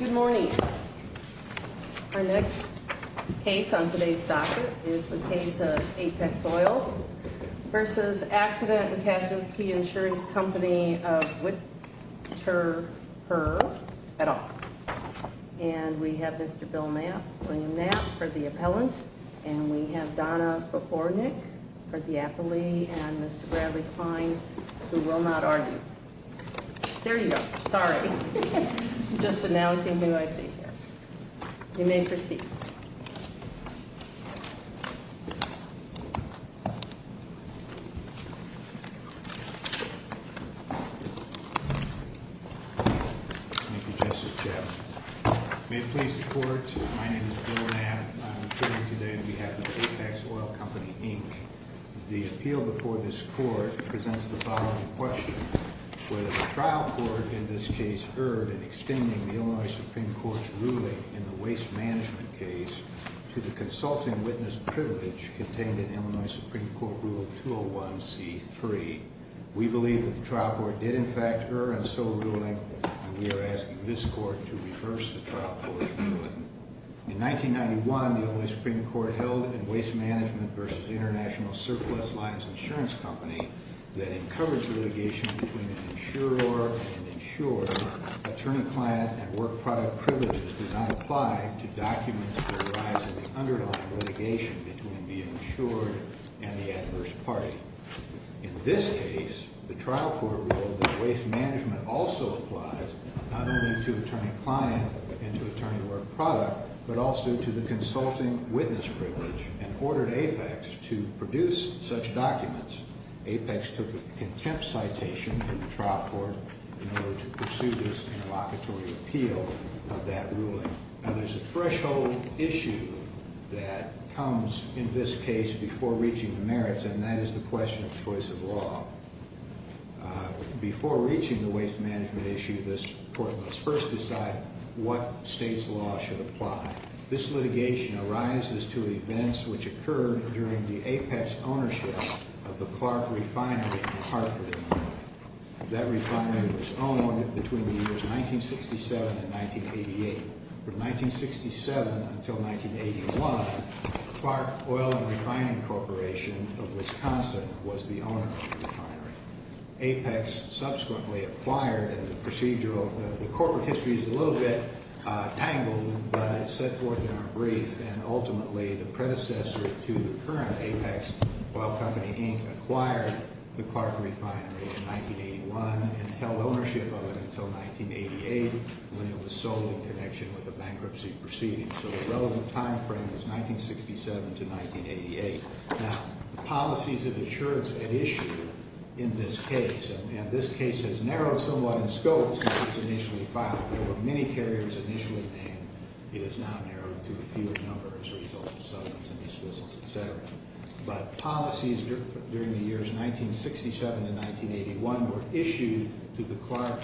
Good morning. Our next case on today's docket is the case of Apex Oil v. Accident & Casualty Insurance Co. of Whittaker et al. And we have Mr. Bill Knapp, William Knapp for the appellant. And we have Donna Befornik for the appellee. And Mr. Bradley Klein who will not argue. There you go. Sorry. Just analyzing who I see here. You may proceed. Thank you, Justice Chaffetz. May it please the Court, my name is Bill Knapp. I'm appearing today on behalf of Apex Oil Co. Inc. The appeal before this Court presents the following question. Whether the trial court in this case erred in extending the Illinois Supreme Court's ruling in the waste management case to the consulting witness privilege contained in Illinois Supreme Court Rule 201C3. We believe that the trial court did in fact err in so ruling and we are asking this Court to reverse the trial court's ruling. In 1991, the Illinois Supreme Court held in Waste Management v. International Surplus Lines Insurance Company that in coverage litigation between an insurer and insured, attorney-client and work product privileges did not apply to documents that arise in the underlying litigation between the insured and the adverse party. In this case, the trial court ruled that waste management also applies not only to attorney-client and to attorney-work product, but also to the consulting witness privilege and ordered Apex to produce such documents. Apex took a contempt citation from the trial court in order to pursue this interlocutory appeal of that ruling. Now there's a threshold issue that comes in this case before reaching the merits and that is the question of choice of law. Before reaching the waste management issue, this Court must first decide what state's law should apply. This litigation arises to events which occurred during the Apex ownership of the Clark Refinery in Hartford, Illinois. That refinery was owned between the years 1967 and 1988. From 1967 until 1981, Clark Oil and Refining Corporation of Wisconsin was the owner of the refinery. Apex subsequently acquired and the procedural, the corporate history is a little bit tangled, but it's set forth in our brief. And ultimately, the predecessor to the current Apex Oil Company, Inc., acquired the Clark Refinery in 1981 and held ownership of it until 1988 when it was sold in connection with a bankruptcy proceeding. So the relevant time frame was 1967 to 1988. Now, the policies of insurance at issue in this case, and this case has narrowed somewhat in scope since it was initially filed. There were many carriers initially named. It has now narrowed to a fewer number as a result of settlements and dismissals, et cetera. But policies during the years 1967 to 1981 were issued to the Clark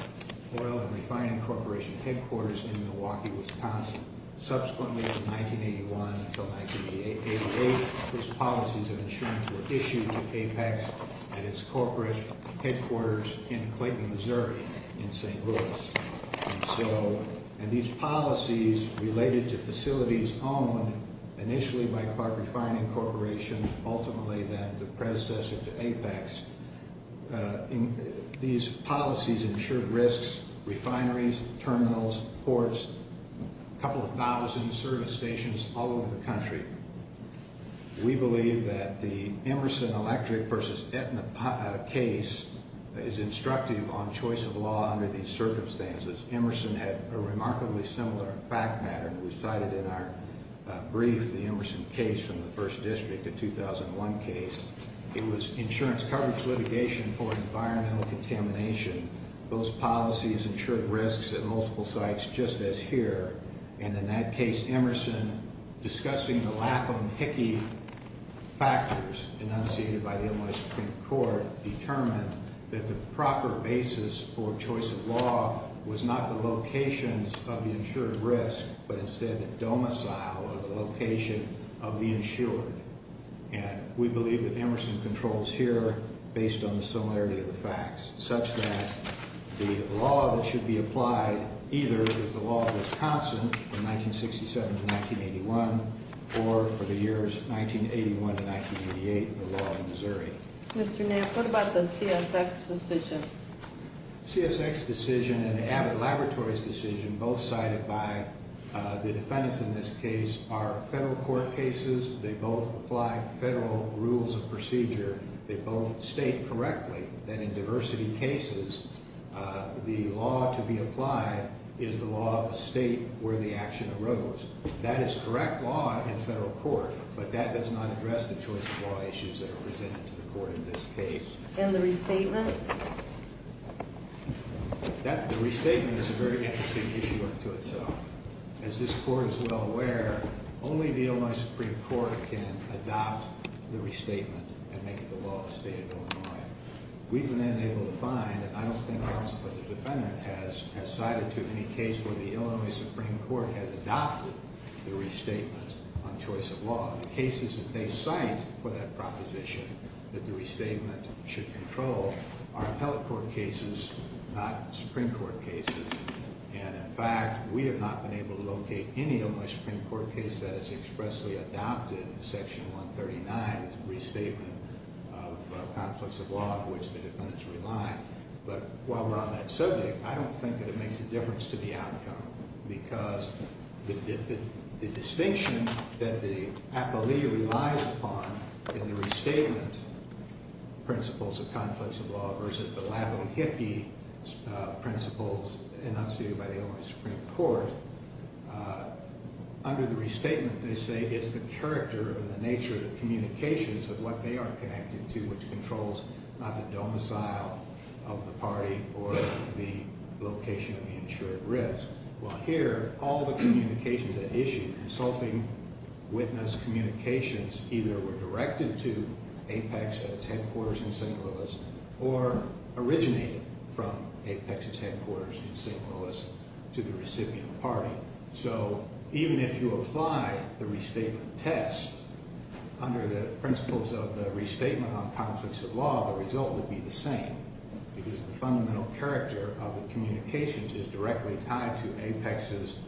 Oil and Refining Corporation headquarters in Milwaukee, Wisconsin. Subsequently, from 1981 until 1988, those policies of insurance were issued to Apex at its corporate headquarters in Clayton, Missouri, in St. Louis. And these policies related to facilities owned initially by Clark Refining Corporation, ultimately then the predecessor to Apex, these policies ensured risks, refineries, terminals, ports, a couple of thousand service stations all over the country. We believe that the Emerson Electric versus Aetna case is instructive on choice of law under these circumstances. Emerson had a remarkably similar fact matter that we cited in our brief, the Emerson case from the First District, the 2001 case. It was insurance coverage litigation for environmental contamination. Those policies ensured risks at multiple sites just as here. And in that case, Emerson, discussing the lack of Hickey factors enunciated by the Illinois Supreme Court, determined that the proper basis for choice of law was not the locations of the insured risk, but instead domicile or the location of the insured. And we believe that Emerson controls here based on the similarity of the facts such that the law that should be applied either is the law of Wisconsin from 1967 to 1981 or for the years 1981 to 1988, the law of Missouri. Mr. Nair, what about the CSX decision? CSX decision and the Abbott Laboratories decision, both cited by the defendants in this case, are federal court cases. They both apply federal rules of procedure. They both state correctly that in diversity cases, the law to be applied is the law of the state where the action arose. That is correct law in federal court, but that does not address the choice of law issues that are presented to the court in this case. And the restatement? The restatement is a very interesting issue unto itself. As this court is well aware, only the Illinois Supreme Court can adopt the restatement and make it the law of the state of Illinois. We've been unable to find, and I don't think counsel for the defendant has cited too many cases where the Illinois Supreme Court has adopted the restatement on choice of law. The cases that they cite for that proposition that the restatement should control are appellate court cases, not Supreme Court cases. And in fact, we have not been able to locate any Illinois Supreme Court case that has expressly adopted Section 139 as a restatement of conflicts of law which the defendants rely on. But while we're on that subject, I don't think that it makes a difference to the outcome. Because the distinction that the appellee relies upon in the restatement, principles of conflicts of law, versus the Lavahiki principles enunciated by the Illinois Supreme Court, under the restatement they say it's the character and the nature of the communications of what they are connected to which controls not the domicile of the party or the location of the insured risk. Well here, all the communications at issue, consulting witness communications, either were directed to Apex at its headquarters in St. Louis or originated from Apex's headquarters in St. Louis to the recipient party. So even if you apply the restatement test under the principles of the restatement on conflicts of law, the result would be the same. Because the fundamental character of the communications is directly tied to Apex's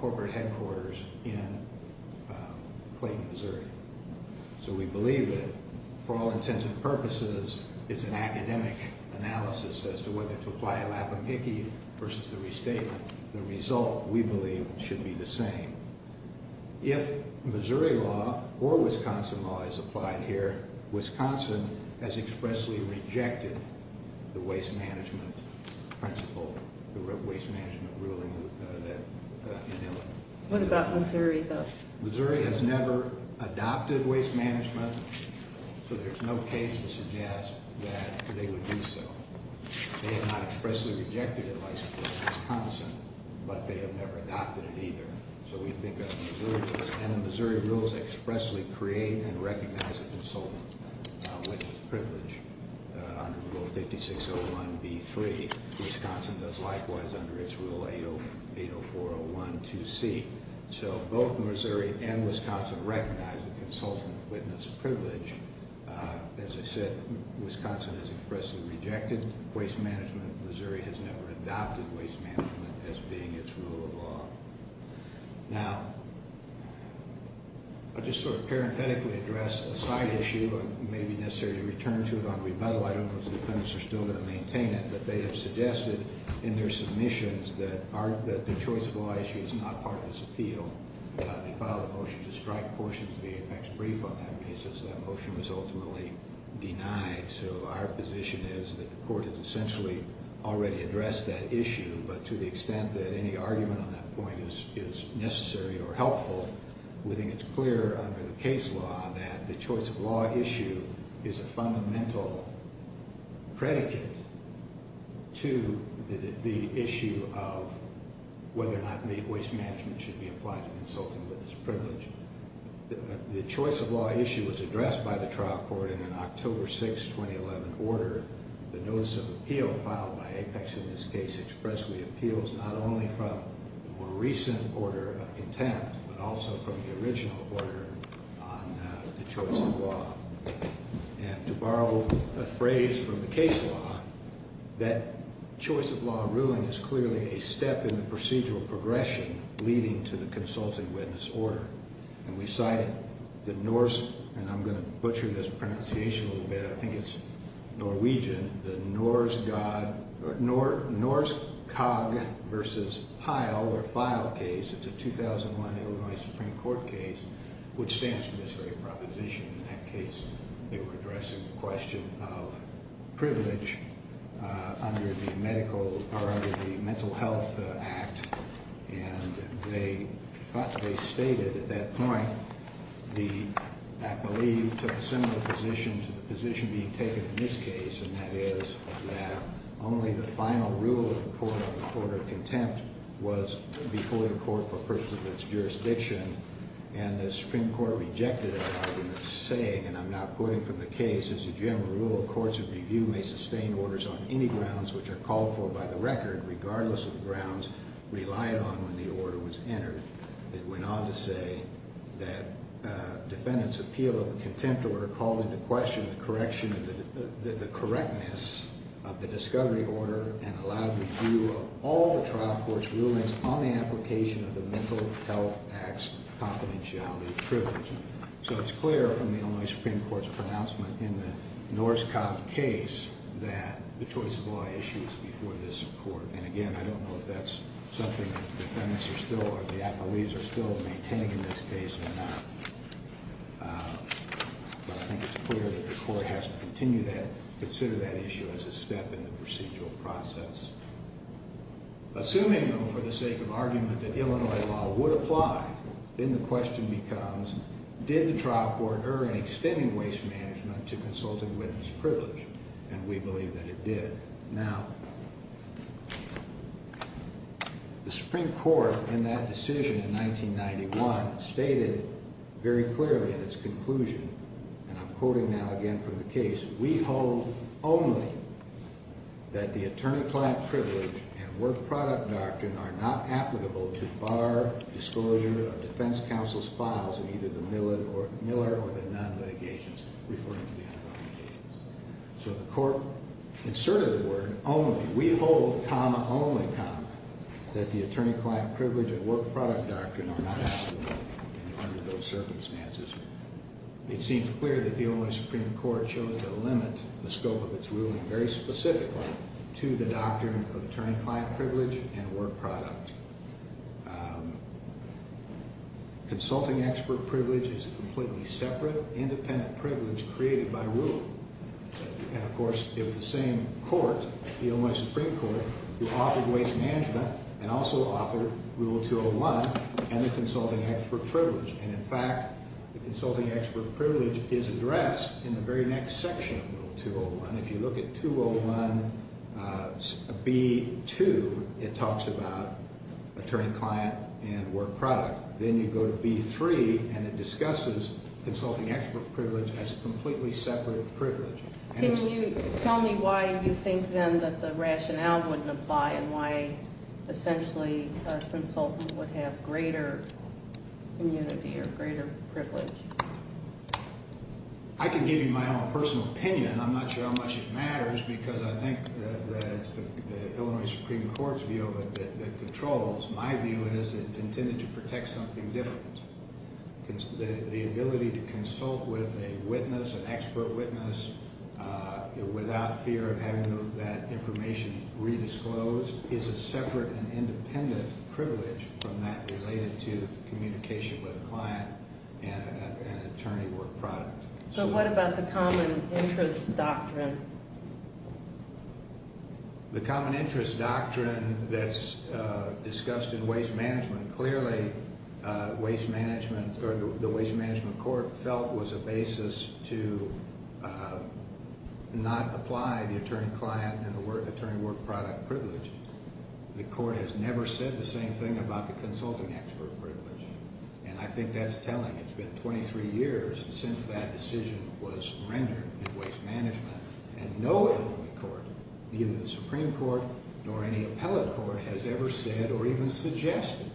corporate headquarters in Clayton, Missouri. So we believe that for all intents and purposes, it's an academic analysis as to whether to apply a Lavahiki versus the restatement. The result, we believe, should be the same. If Missouri law or Wisconsin law is applied here, Wisconsin has expressly rejected the waste management principle, the waste management ruling in Illinois. What about Missouri though? Missouri has never adopted waste management, so there's no case to suggest that they would do so. They have not expressly rejected it, like Wisconsin, but they have never adopted it either. So we think that Missouri rules expressly create and recognize a consultant witness privilege under Rule 5601B3. Wisconsin does likewise under its Rule 804012C. So both Missouri and Wisconsin recognize a consultant witness privilege. As I said, Wisconsin has expressly rejected waste management. Missouri has never adopted waste management as being its rule of law. Now, I'll just sort of parenthetically address a side issue, and maybe necessarily return to it on rebuttal. I don't know if the defendants are still going to maintain it, but they have suggested in their submissions that the choice of law issue is not part of this appeal. They filed a motion to strike portions of the apex brief on that basis. That motion was ultimately denied. So our position is that the court has essentially already addressed that issue, but to the extent that any argument on that point is necessary or helpful, we think it's clear under the case law that the choice of law issue is a fundamental predicate to the issue of whether or not waste management should be applied to consultant witness privilege. The choice of law issue was addressed by the trial court in an October 6, 2011, order. The notice of appeal filed by Apex in this case expressly appeals not only from a more recent order of contempt, but also from the original order on the choice of law. And to borrow a phrase from the case law, that choice of law ruling is clearly a step in the procedural progression leading to the consultant witness order. And we cited the Norse, and I'm going to butcher this pronunciation a little bit, I think it's Norwegian, the Norskog versus Pyle or Pyle case. It's a 2001 Illinois Supreme Court case, which stands for this very proposition. In that case, they were addressing the question of privilege under the mental health act, and they stated at that point, I believe, to a similar position to the position being taken in this case, and that is that only the final rule of the court on the order of contempt was before the court for personal jurisdiction. And the Supreme Court rejected that argument, saying, and I'm not quoting from the case, as a general rule, courts of review may sustain orders on any grounds which are called for by the record, regardless of the grounds relied on when the order was entered. It went on to say that defendants' appeal of the contempt order called into question the correctness of the discovery order and allowed review of all the trial court's rulings on the application of the mental health act's confidentiality privilege. So it's clear from the Illinois Supreme Court's pronouncement in the Norskog case that the choice of law issues before this court. And again, I don't know if that's something that the defendants are still, or the appellees are still maintaining in this case or not. But I think it's clear that the court has to continue that, consider that issue as a step in the procedural process. Assuming, though, for the sake of argument, that Illinois law would apply, then the question becomes, did the trial court err in extending waste management to consultant witness privilege? And we believe that it did. Now, the Supreme Court, in that decision in 1991, stated very clearly in its conclusion, and I'm quoting now again from the case, we hold only that the attorney-client privilege and work-product doctrine are not applicable to bar disclosure of defense counsel's files in either the Miller or the Nunn litigations, referring to the underwriting cases. So the court inserted the word, only, we hold, comma, only, comma, that the attorney-client privilege and work-product doctrine are not applicable under those circumstances. It seems clear that the Illinois Supreme Court chose to limit the scope of its ruling very specifically to the doctrine of attorney-client privilege and work-product. Consulting expert privilege is a completely separate, independent privilege created by rule. And, of course, it was the same court, the Illinois Supreme Court, who offered waste management and also offered Rule 201 and the consulting expert privilege. And, in fact, the consulting expert privilege is addressed in the very next section of Rule 201. If you look at 201B2, it talks about attorney-client and work-product. Then you go to B3, and it discusses consulting expert privilege as a completely separate privilege. Can you tell me why you think, then, that the rationale wouldn't apply and why, essentially, a consultant would have greater immunity or greater privilege? I can give you my own personal opinion. I'm not sure how much it matters because I think that it's the Illinois Supreme Court's view of it that controls. My view is it's intended to protect something different. The ability to consult with a witness, an expert witness, without fear of having that information redisclosed, is a separate and independent privilege from that related to communication with a client and an attorney work-product. So what about the common interest doctrine? The common interest doctrine that's discussed in waste management, clearly, the waste management court felt was a basis to not apply the attorney-client and the attorney work-product privilege. The court has never said the same thing about the consulting expert privilege, and I think that's telling. It's been 23 years since that decision was rendered in waste management, and no Illinois court, neither the Supreme Court nor any appellate court, has ever said or even suggested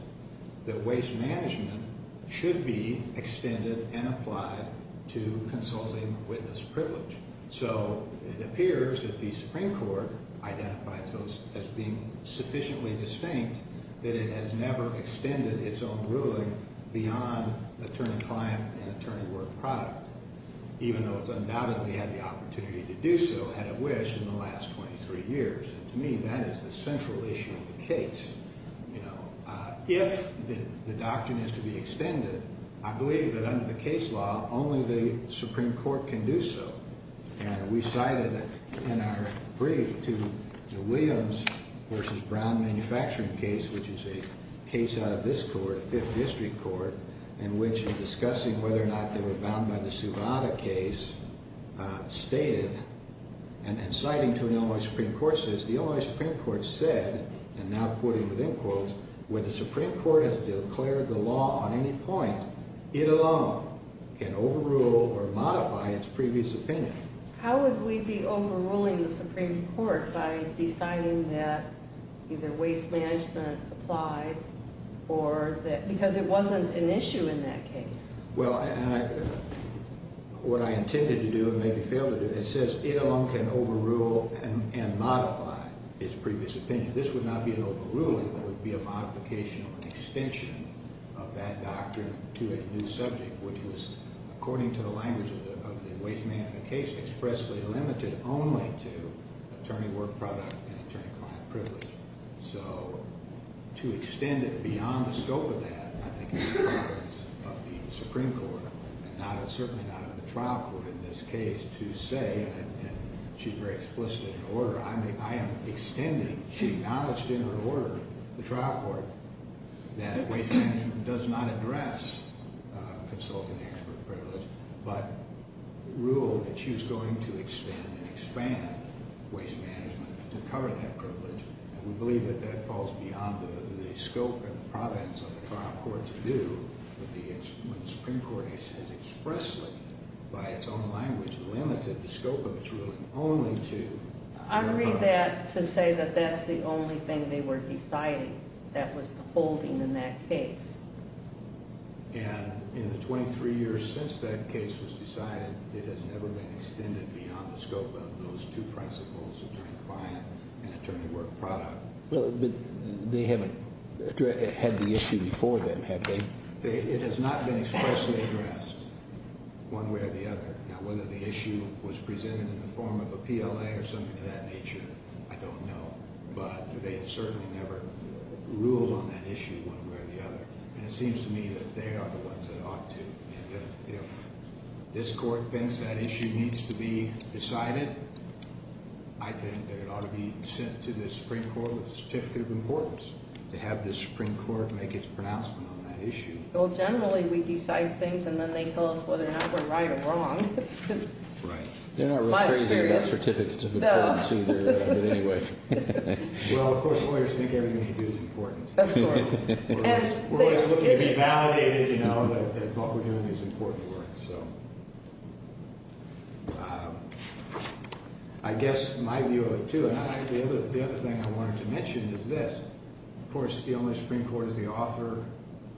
that waste management should be extended and applied to consulting witness privilege. So it appears that the Supreme Court identifies those as being sufficiently distinct that it has never extended its own ruling beyond attorney-client and attorney work-product, even though it's undoubtedly had the opportunity to do so, had it wished, in the last 23 years. And to me, that is the central issue of the case. If the doctrine is to be extended, I believe that under the case law, only the Supreme Court can do so. And we cited in our brief to the Williams v. Brown manufacturing case, which is a case out of this court, a fifth district court, in which in discussing whether or not they were bound by the Suvada case, stated, and citing to an Illinois Supreme Court, says, the Illinois Supreme Court said, and now quoting with end quotes, where the Supreme Court has declared the law on any point, it alone can overrule or modify its previous opinion. How would we be overruling the Supreme Court by deciding that either waste management applied or that, because it wasn't an issue in that case? Well, what I intended to do and maybe failed to do, it says it alone can overrule and modify its previous opinion. This would not be an overruling. It would be a modification or an extension of that doctrine to a new subject, which was, according to the language of the waste management case, expressly limited only to attorney work-product and attorney-client privilege. So to extend it beyond the scope of that, I think it's the preference of the Supreme Court, and certainly not of the trial court in this case, to say, and she's very explicit in her order, I am extending, she acknowledged in her order, the trial court, that waste management does not address consultant-expert privilege, but ruled that she was going to expand and expand waste management to cover that privilege, and we believe that that falls beyond the scope or the province of the trial court to do what the Supreme Court has expressly, by its own language, limited the scope of its ruling only to… I read that to say that that's the only thing they were deciding that was the holding in that case. And in the 23 years since that case was decided, it has never been extended beyond the scope of those two principles, attorney-client and attorney-work-product. But they haven't had the issue before then, have they? It has not been expressly addressed one way or the other. Now, whether the issue was presented in the form of a PLA or something of that nature, I don't know. But they have certainly never ruled on that issue one way or the other. And it seems to me that they are the ones that ought to. If this court thinks that issue needs to be decided, I think that it ought to be sent to the Supreme Court with a certificate of importance to have the Supreme Court make its pronouncement on that issue. Well, generally, we decide things, and then they tell us whether or not we're right or wrong. Right. They're not real crazy about certificates of importance either, but anyway. Well, of course, lawyers think everything they do is important. Of course. We're always looking to be validated, you know, that what we're doing is important work. So I guess my view of it, too, and the other thing I wanted to mention is this. Of course, the only Supreme Court is the author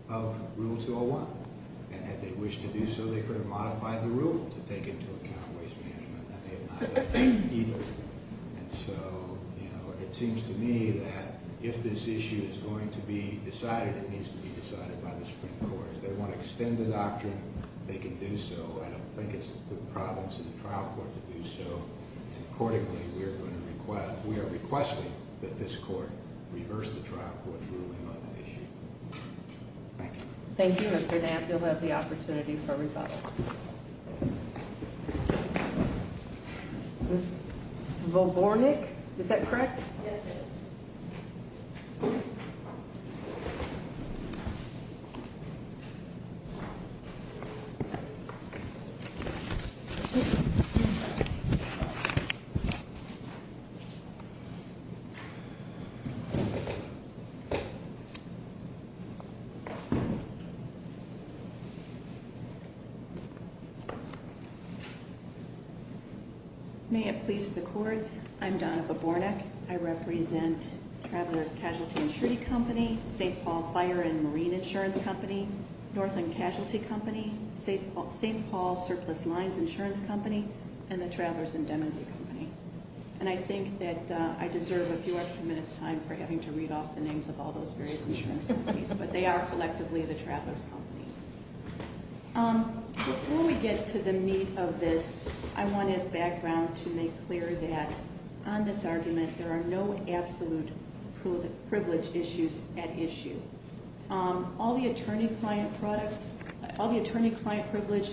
of Rule 201. And had they wished to do so, they could have modified the rule to take into account waste management, and they have not done that either. And so, you know, it seems to me that if this issue is going to be decided, it needs to be decided by the Supreme Court. If they want to extend the doctrine, they can do so. I don't think it's the province or the trial court to do so. And accordingly, we are going to request – we are requesting that this court reverse the trial court's ruling on the issue. Thank you. Thank you, Mr. Knapp. You'll have the opportunity for rebuttal. Ms. Volbornik, is that correct? Yes, it is. May it please the court, I'm Donna Volbornik. I represent Travelers' Casualty Insurance Company, St. Paul Fire and Marine Insurance Company, Northland Casualty Company, St. Paul Surplus Lines Insurance Company, and the Travelers' Indemnity Company. And I think that I deserve a few extra minutes' time for having to read off the names of all those various insurance companies, but they are collectively the travelers' companies. Before we get to the meat of this, I want, as background, to make clear that on this argument, there are no absolute privilege issues at issue. All the attorney-client privilege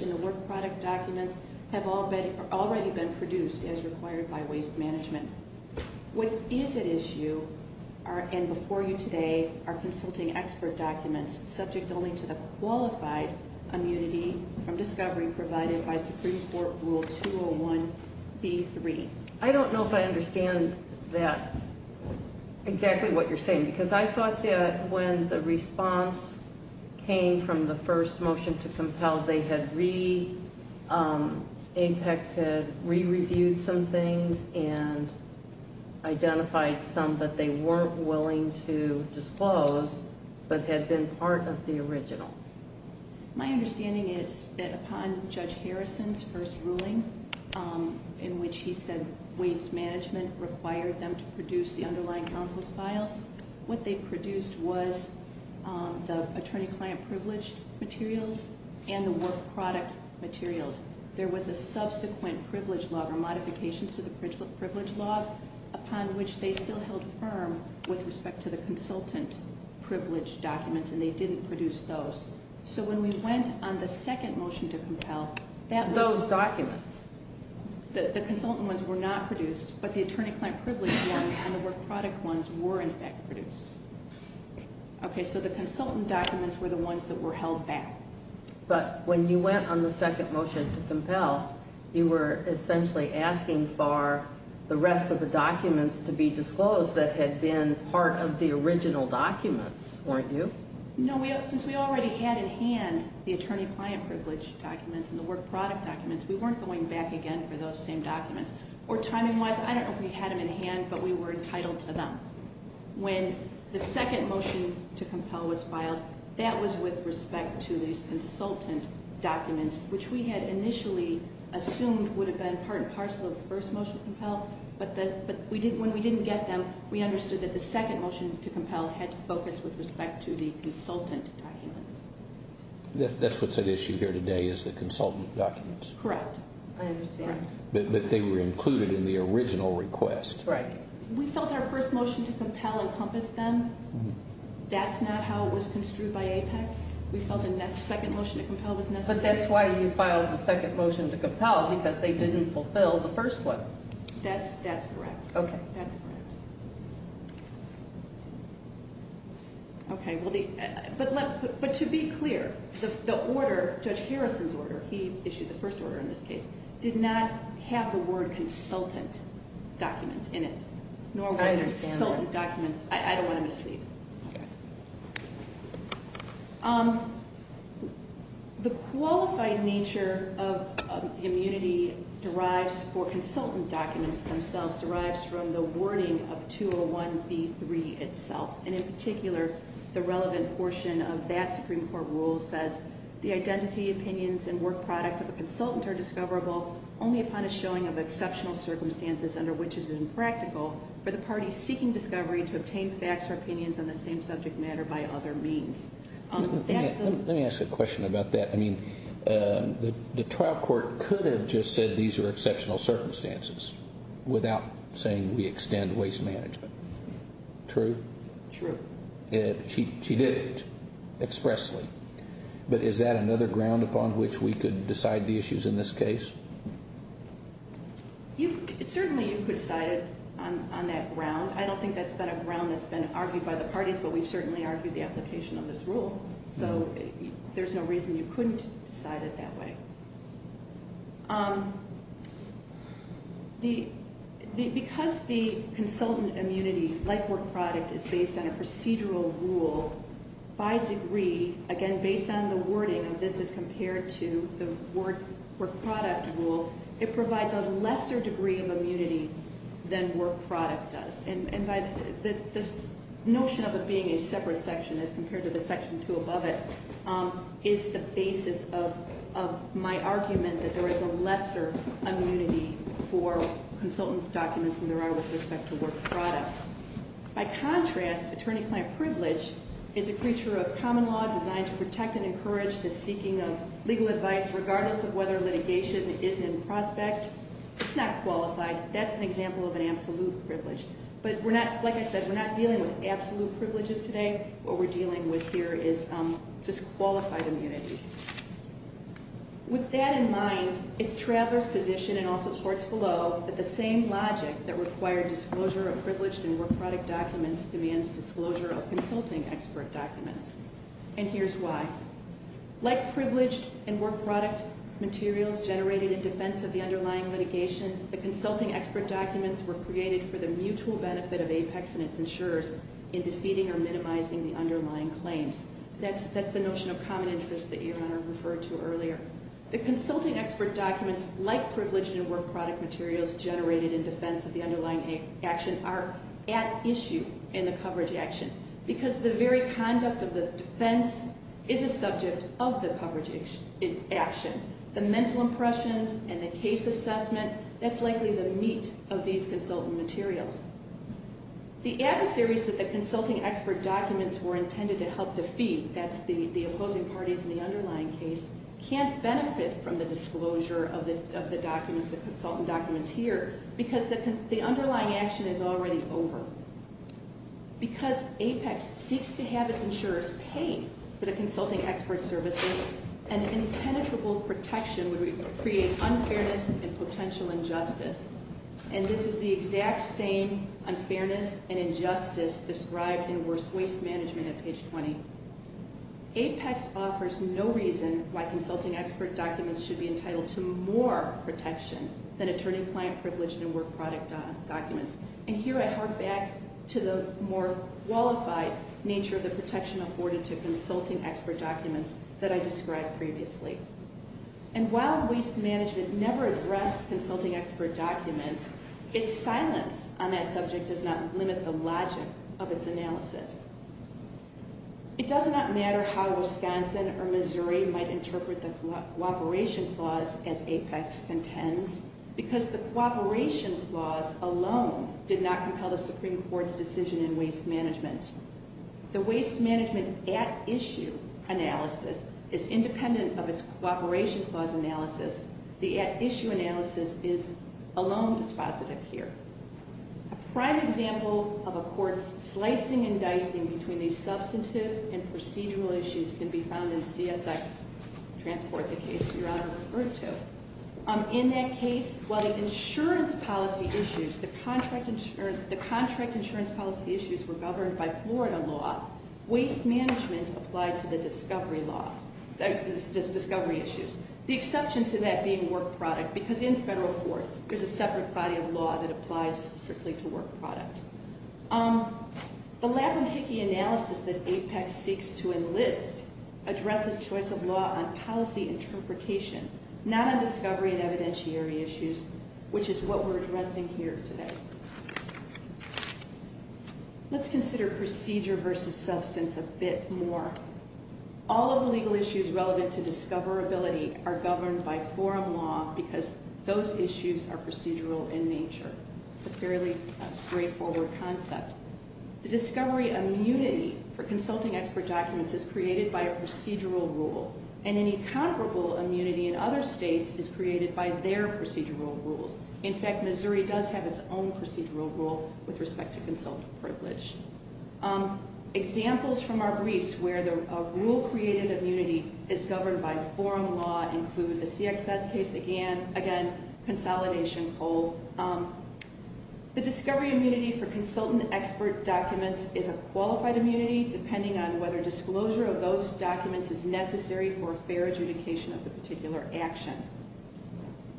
and the work product documents have already been produced as required by Waste Management. What is at issue, and before you today, are consulting expert documents, subject only to the qualified immunity from discovery provided by Supreme Court Rule 201B3? I don't know if I understand that, exactly what you're saying, because I thought that when the response came from the first motion to compel, Apex had re-reviewed some things and identified some that they weren't willing to disclose, but had been part of the original. My understanding is that upon Judge Harrison's first ruling, in which he said Waste Management required them to produce the underlying counsel's files, what they produced was the attorney-client privilege materials and the work product materials. There was a subsequent privilege log or modification to the privilege log, upon which they still held firm with respect to the consultant privilege documents, and they didn't produce those. So when we went on the second motion to compel, Those documents? The consultant ones were not produced, but the attorney-client privilege ones and the work product ones were in fact produced. Okay, so the consultant documents were the ones that were held back. But when you went on the second motion to compel, you were essentially asking for the rest of the documents to be disclosed that had been part of the original documents, weren't you? No, since we already had in hand the attorney-client privilege documents and the work product documents, we weren't going back again for those same documents. Or timing-wise, I don't know if we had them in hand, but we were entitled to them. When the second motion to compel was filed, that was with respect to these consultant documents, which we had initially assumed would have been part and parcel of the first motion to compel, but when we didn't get them, we understood that the second motion to compel had to focus with respect to the consultant documents. That's what's at issue here today is the consultant documents. Correct. I understand. But they were included in the original request. Right. We felt our first motion to compel encompassed them. That's not how it was construed by APEX. We felt a second motion to compel was necessary. But that's why you filed the second motion to compel, because they didn't fulfill the first one. That's correct. Okay. But to be clear, the order, Judge Harrison's order, he issued the first order in this case, did not have the word consultant documents in it, nor were there consultant documents. I understand that. I don't want to mislead. Okay. The qualified nature of the immunity derives for consultant documents themselves, derives from the wording of 201B3 itself, and in particular, the relevant portion of that Supreme Court rule says, the identity, opinions, and work product of the consultant are discoverable only upon a showing of exceptional circumstances, under which it is impractical for the party seeking discovery to obtain facts or opinions on the same subject matter by other means. Let me ask a question about that. I mean, the trial court could have just said these are exceptional circumstances without saying we extend waste management. True? True. She did it expressly. But is that another ground upon which we could decide the issues in this case? Certainly you could decide it on that ground. I don't think that's been a ground that's been argued by the parties, but we've certainly argued the application of this rule. So there's no reason you couldn't decide it that way. Because the consultant immunity, like work product, is based on a procedural rule, by degree, again, based on the wording of this as compared to the work product rule, it provides a lesser degree of immunity than work product does. And this notion of it being a separate section as compared to the section two above it is the basis of my argument that there is a lesser immunity for consultant documents than there are with respect to work product. By contrast, attorney-client privilege is a creature of common law designed to protect and encourage the seeking of legal advice regardless of whether litigation is in prospect. It's not qualified. That's an example of an absolute privilege. But like I said, we're not dealing with absolute privileges today. What we're dealing with here is just qualified immunities. With that in mind, it's Traveler's position, and also Schwartz below, that the same logic that required disclosure of privileged and work product documents demands disclosure of consulting expert documents. And here's why. Like privileged and work product materials generated in defense of the underlying litigation, the consulting expert documents were created for the mutual benefit of APEX and its insurers in defeating or minimizing the underlying claims. That's the notion of common interest that your Honor referred to earlier. The consulting expert documents, like privileged and work product materials generated in defense of the underlying action, are at issue in the coverage action because the very conduct of the defense is a subject of the coverage action. The mental impressions and the case assessment, that's likely the meat of these consultant materials. The adversaries that the consulting expert documents were intended to help defeat, that's the opposing parties in the underlying case, can't benefit from the disclosure of the documents, the consultant documents here, because the underlying action is already over. Because APEX seeks to have its insurers pay for the consulting expert services, an impenetrable protection would create unfairness and potential injustice. And this is the exact same unfairness and injustice described in worst waste management at page 20. APEX offers no reason why consulting expert documents should be entitled to more protection than attorney-client privileged and work product documents. And here I hark back to the more qualified nature of the protection afforded to consulting expert documents that I described previously. And while waste management never addressed consulting expert documents, its silence on that subject does not limit the logic of its analysis. It does not matter how Wisconsin or Missouri might interpret the cooperation clause as APEX contends, because the cooperation clause alone did not compel the Supreme Court's decision in waste management. The waste management at issue analysis is independent of its cooperation clause analysis. The at issue analysis is alone dispositive here. A prime example of a court's slicing and dicing between these substantive and procedural issues can be found in CSX Transport, the case Your Honor referred to. In that case, while the insurance policy issues, the contract insurance policy issues were governed by Florida law, waste management applied to the discovery law, discovery issues. The exception to that being work product, because in federal court there's a separate body of law that applies strictly to work product. The lap and hickey analysis that APEX seeks to enlist addresses choice of law on policy interpretation, not on discovery and evidentiary issues, which is what we're addressing here today. Let's consider procedure versus substance a bit more. All of the legal issues relevant to discoverability are governed by foreign law, because those issues are procedural in nature. It's a fairly straightforward concept. The discovery immunity for consulting expert documents is created by a procedural rule, and any comparable immunity in other states is created by their procedural rules. In fact, Missouri does have its own procedural rule with respect to consultant privilege. Examples from our briefs where a rule-created immunity is governed by foreign law include the CXS case again, consolidation poll. The discovery immunity for consultant expert documents is a qualified immunity, depending on whether disclosure of those documents is necessary for fair adjudication of the particular action.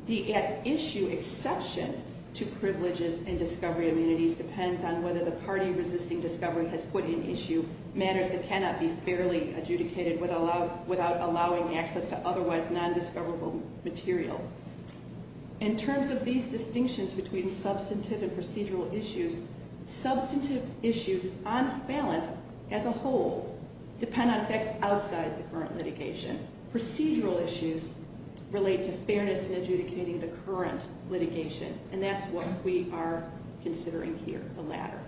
The at-issue exception to privileges and discovery immunities depends on whether the party resisting discovery has put in issue matters that cannot be fairly adjudicated without allowing access to otherwise nondiscoverable material. In terms of these distinctions between substantive and procedural issues, substantive issues on balance as a whole depend on facts outside the current litigation. Procedural issues relate to fairness in adjudicating the current litigation, and that's what we are considering here, the latter.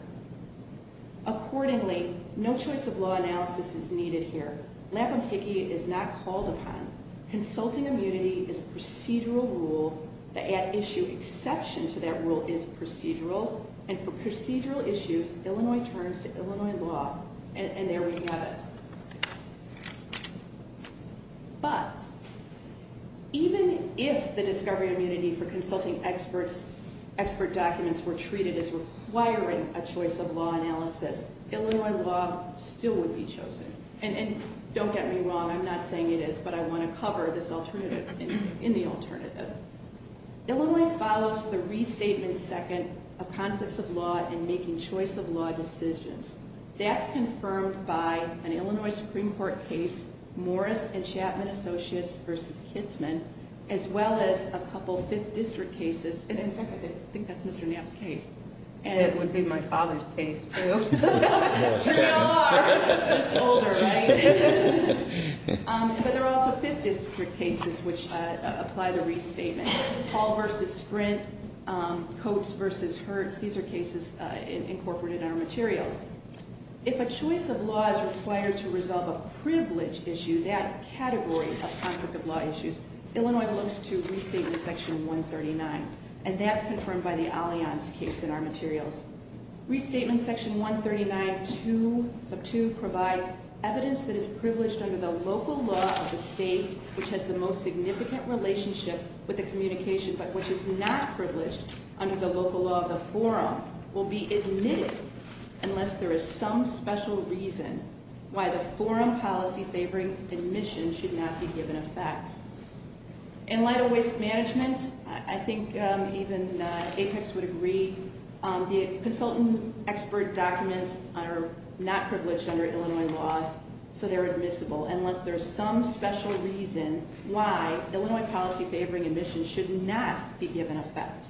Accordingly, no choice of law analysis is needed here. Lapp and Hickey is not called upon. Consulting immunity is a procedural rule. The at-issue exception to that rule is procedural, and for procedural issues, Illinois turns to Illinois law, and there we have it. But even if the discovery immunity for consulting expert documents were treated as requiring a choice of law analysis, Illinois law still would be chosen. And don't get me wrong, I'm not saying it is, but I want to cover this alternative in the alternative. Illinois follows the restatement second of conflicts of law in making choice of law decisions. That's confirmed by an Illinois Supreme Court case, Morris and Chapman Associates v. Kitzman, as well as a couple Fifth District cases, and I think that's Mr. Knapp's case. It would be my father's case, too. Sure you are, just older, right? But there are also Fifth District cases which apply the restatement. Hall v. Sprint, Coates v. Hertz, these are cases incorporated in our materials. If a choice of law is required to resolve a privilege issue, that category of conflict of law issues, Illinois belongs to restatement section 139, and that's confirmed by the Allianz case in our materials. Restatement section 139.2 provides evidence that is privileged under the local law of the state, which has the most significant relationship with the communication, but which is not privileged under the local law of the forum, will be admitted unless there is some special reason why the forum policy favoring admission should not be given effect. In light of waste management, I think even Apex would agree, the consultant expert documents are not privileged under Illinois law, so they're admissible, unless there is some special reason why Illinois policy favoring admission should not be given effect.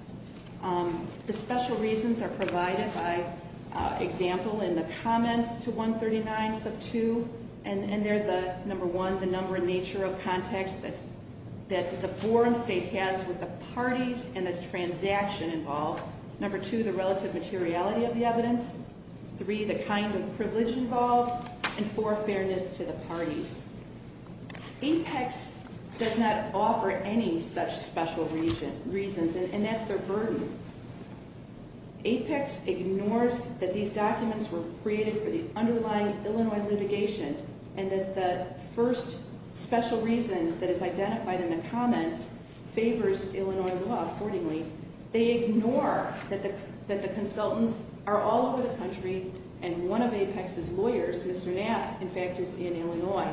The special reasons are provided by example in the comments to 139.2, and they're the number one, the number and nature of contacts that the forum state has with the parties, and the transaction involved. Number two, the relative materiality of the evidence. Three, the kind of privilege involved, and four, fairness to the parties. Apex does not offer any such special reasons, and that's their burden. Apex ignores that these documents were created for the underlying Illinois litigation, and that the first special reason that is identified in the comments favors Illinois law, accordingly. They ignore that the consultants are all over the country, and one of Apex's lawyers, Mr. Knapp, in fact, is in Illinois.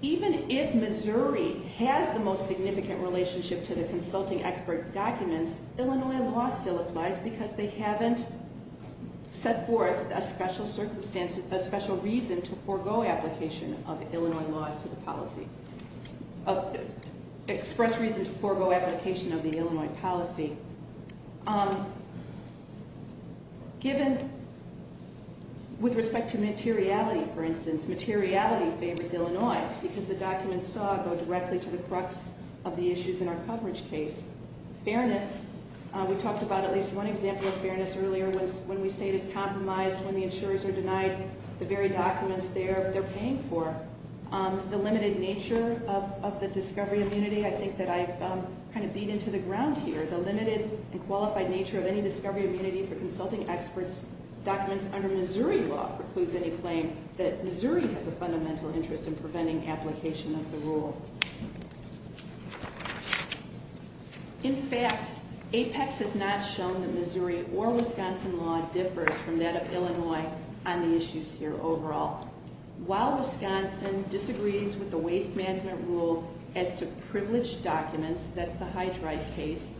Even if Missouri has the most significant relationship to the consulting expert documents, Illinois law still applies because they haven't set forth a special circumstance, a special reason to forego application of Illinois law to the policy, express reason to forego application of the Illinois policy. Given, with respect to materiality, for instance, materiality favors Illinois because the documents saw go directly to the crux of the issues in our coverage case. Fairness, we talked about at least one example of fairness earlier, when we say it is compromised when the insurers are denied the very documents they're paying for. The limited nature of the discovery immunity, I think that I've kind of beat into the ground here. The limited and qualified nature of any discovery immunity for consulting experts' documents under Missouri law precludes any claim that Missouri has a fundamental interest in preventing application of the rule. In fact, Apex has not shown that Missouri or Wisconsin law differs from that of Illinois on the issues here overall. While Wisconsin disagrees with the waste management rule as to privileged documents, that's the hydride case,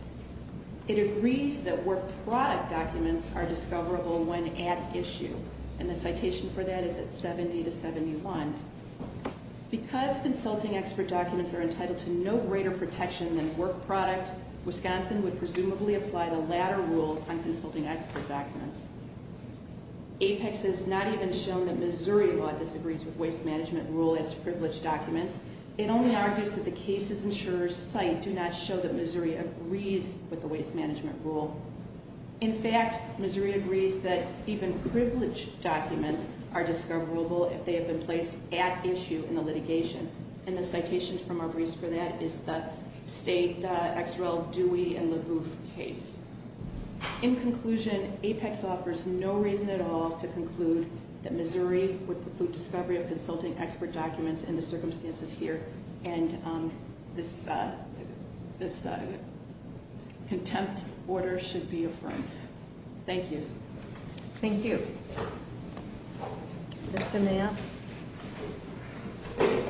it agrees that work product documents are discoverable when at issue, and the citation for that is at 70 to 71. Because consulting expert documents are entitled to no greater protection than work product, Wisconsin would presumably apply the latter rule on consulting expert documents. Apex has not even shown that Missouri law disagrees with waste management rule as to privileged documents. It only argues that the cases insurers cite do not show that Missouri agrees with the waste management rule. In fact, Missouri agrees that even privileged documents are discoverable if they have been placed at issue in the litigation, and the citations from our briefs for that is the state X. Rel. Dewey and LaGouffe case. In conclusion, Apex offers no reason at all to conclude that Missouri would preclude discovery of consulting expert documents in the circumstances here, and this contempt order should be affirmed. Thank you. Thank you. Mr. Mayoff. Thank you.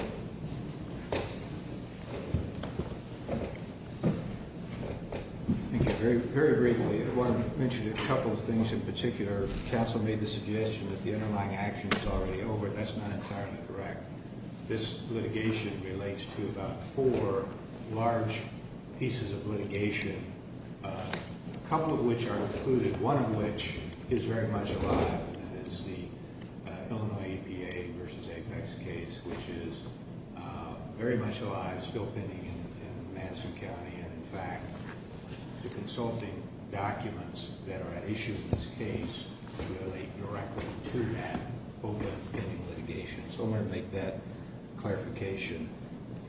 Very briefly, I want to mention a couple of things in particular. Council made the suggestion that the underlying action is already over. That's not entirely correct. This litigation relates to about four large pieces of litigation, a couple of which are included, one of which is very much alive, and it's the Illinois EPA versus Apex case, which is very much alive, still pending in Madison County, and in fact, the consulting documents that are at issue in this case relate directly to that open litigation. So I want to make that clarification.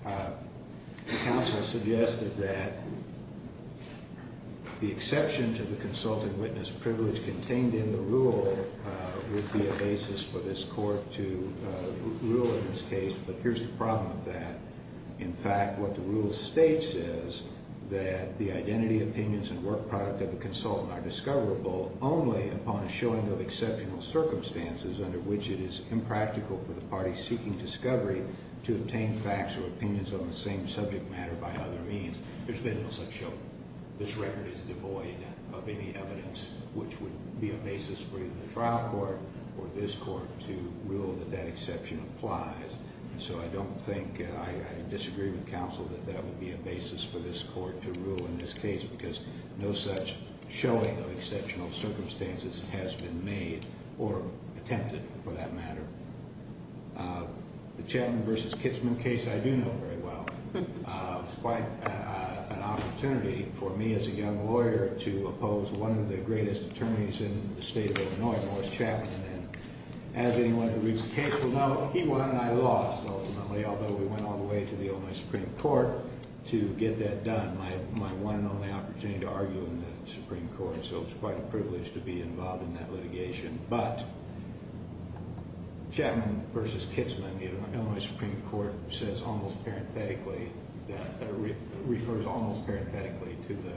The council has suggested that the exception to the consulting witness privilege contained in the rule would be a basis for this court to rule in this case, but here's the problem with that. In fact, what the rule states is that the identity, opinions, and work product of the consultant are discoverable only upon a showing of exceptional circumstances under which it is impractical for the party seeking discovery to obtain facts or opinions on the same subject matter by other means. There's been no such show. This record is devoid of any evidence which would be a basis for either the trial court or this court to rule that that exception applies. So I don't think I disagree with counsel that that would be a basis for this court to rule in this case because no such showing of exceptional circumstances has been made or attempted for that matter. The Chapman versus Kitzman case I do know very well. It's quite an opportunity for me as a young lawyer to oppose one of the greatest attorneys in the state of Illinois, Morris Chapman. And as anyone who reads the case will know, he won and I lost ultimately, although we went all the way to the Illinois Supreme Court to get that done. My one and only opportunity to argue in the Supreme Court, so it's quite a privilege to be involved in that litigation. But Chapman versus Kitzman, the Illinois Supreme Court says almost parenthetically, refers almost parenthetically to the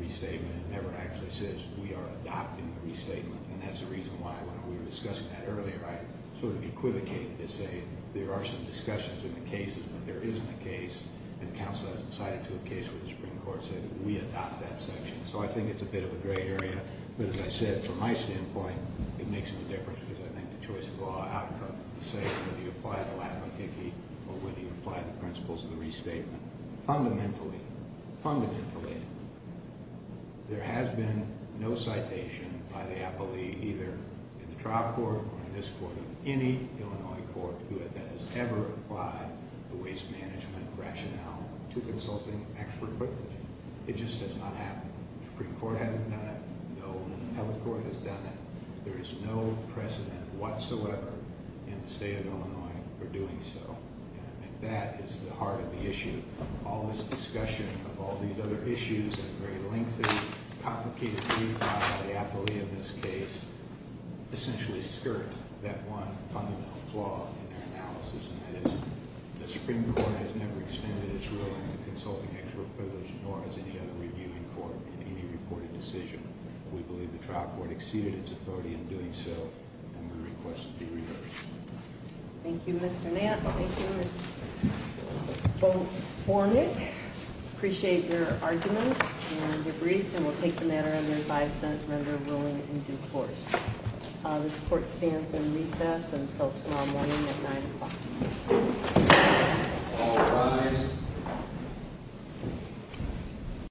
restatement and never actually says we are adopting the restatement. And that's the reason why when we were discussing that earlier, I sort of equivocated to say there are some discussions in the cases, but there isn't a case. And counsel hasn't cited to a case where the Supreme Court said we adopt that section. So I think it's a bit of a gray area. But as I said, from my standpoint, it makes no difference because I think the choice of law outcome is the same, whether you apply the Latin or Hickey or whether you apply the principles of the restatement. Fundamentally, fundamentally, there has been no citation by the appellee either in the trial court or in this court or any Illinois court that has ever applied the waste management rationale to consulting expert privilege. It just does not happen. The Supreme Court hasn't done it, no appellate court has done it. There is no precedent whatsoever in the state of Illinois for doing so. And I think that is the heart of the issue. All this discussion of all these other issues and very lengthy, complicated brief file by the appellee in this case essentially skirt that one fundamental flaw in their analysis, and that is the Supreme Court has never extended its ruling on consulting expert privilege, nor has any other review in court in any reported decision. We believe the trial court exceeded its authority in doing so, and we request it be reversed. Thank you, Mr. Mapp. Thank you, Ms. Bornick. Appreciate your arguments and your briefs, and we'll take the matter under advisement, remember ruling in due course. This court stands in recess until tomorrow morning at 9 o'clock. All rise.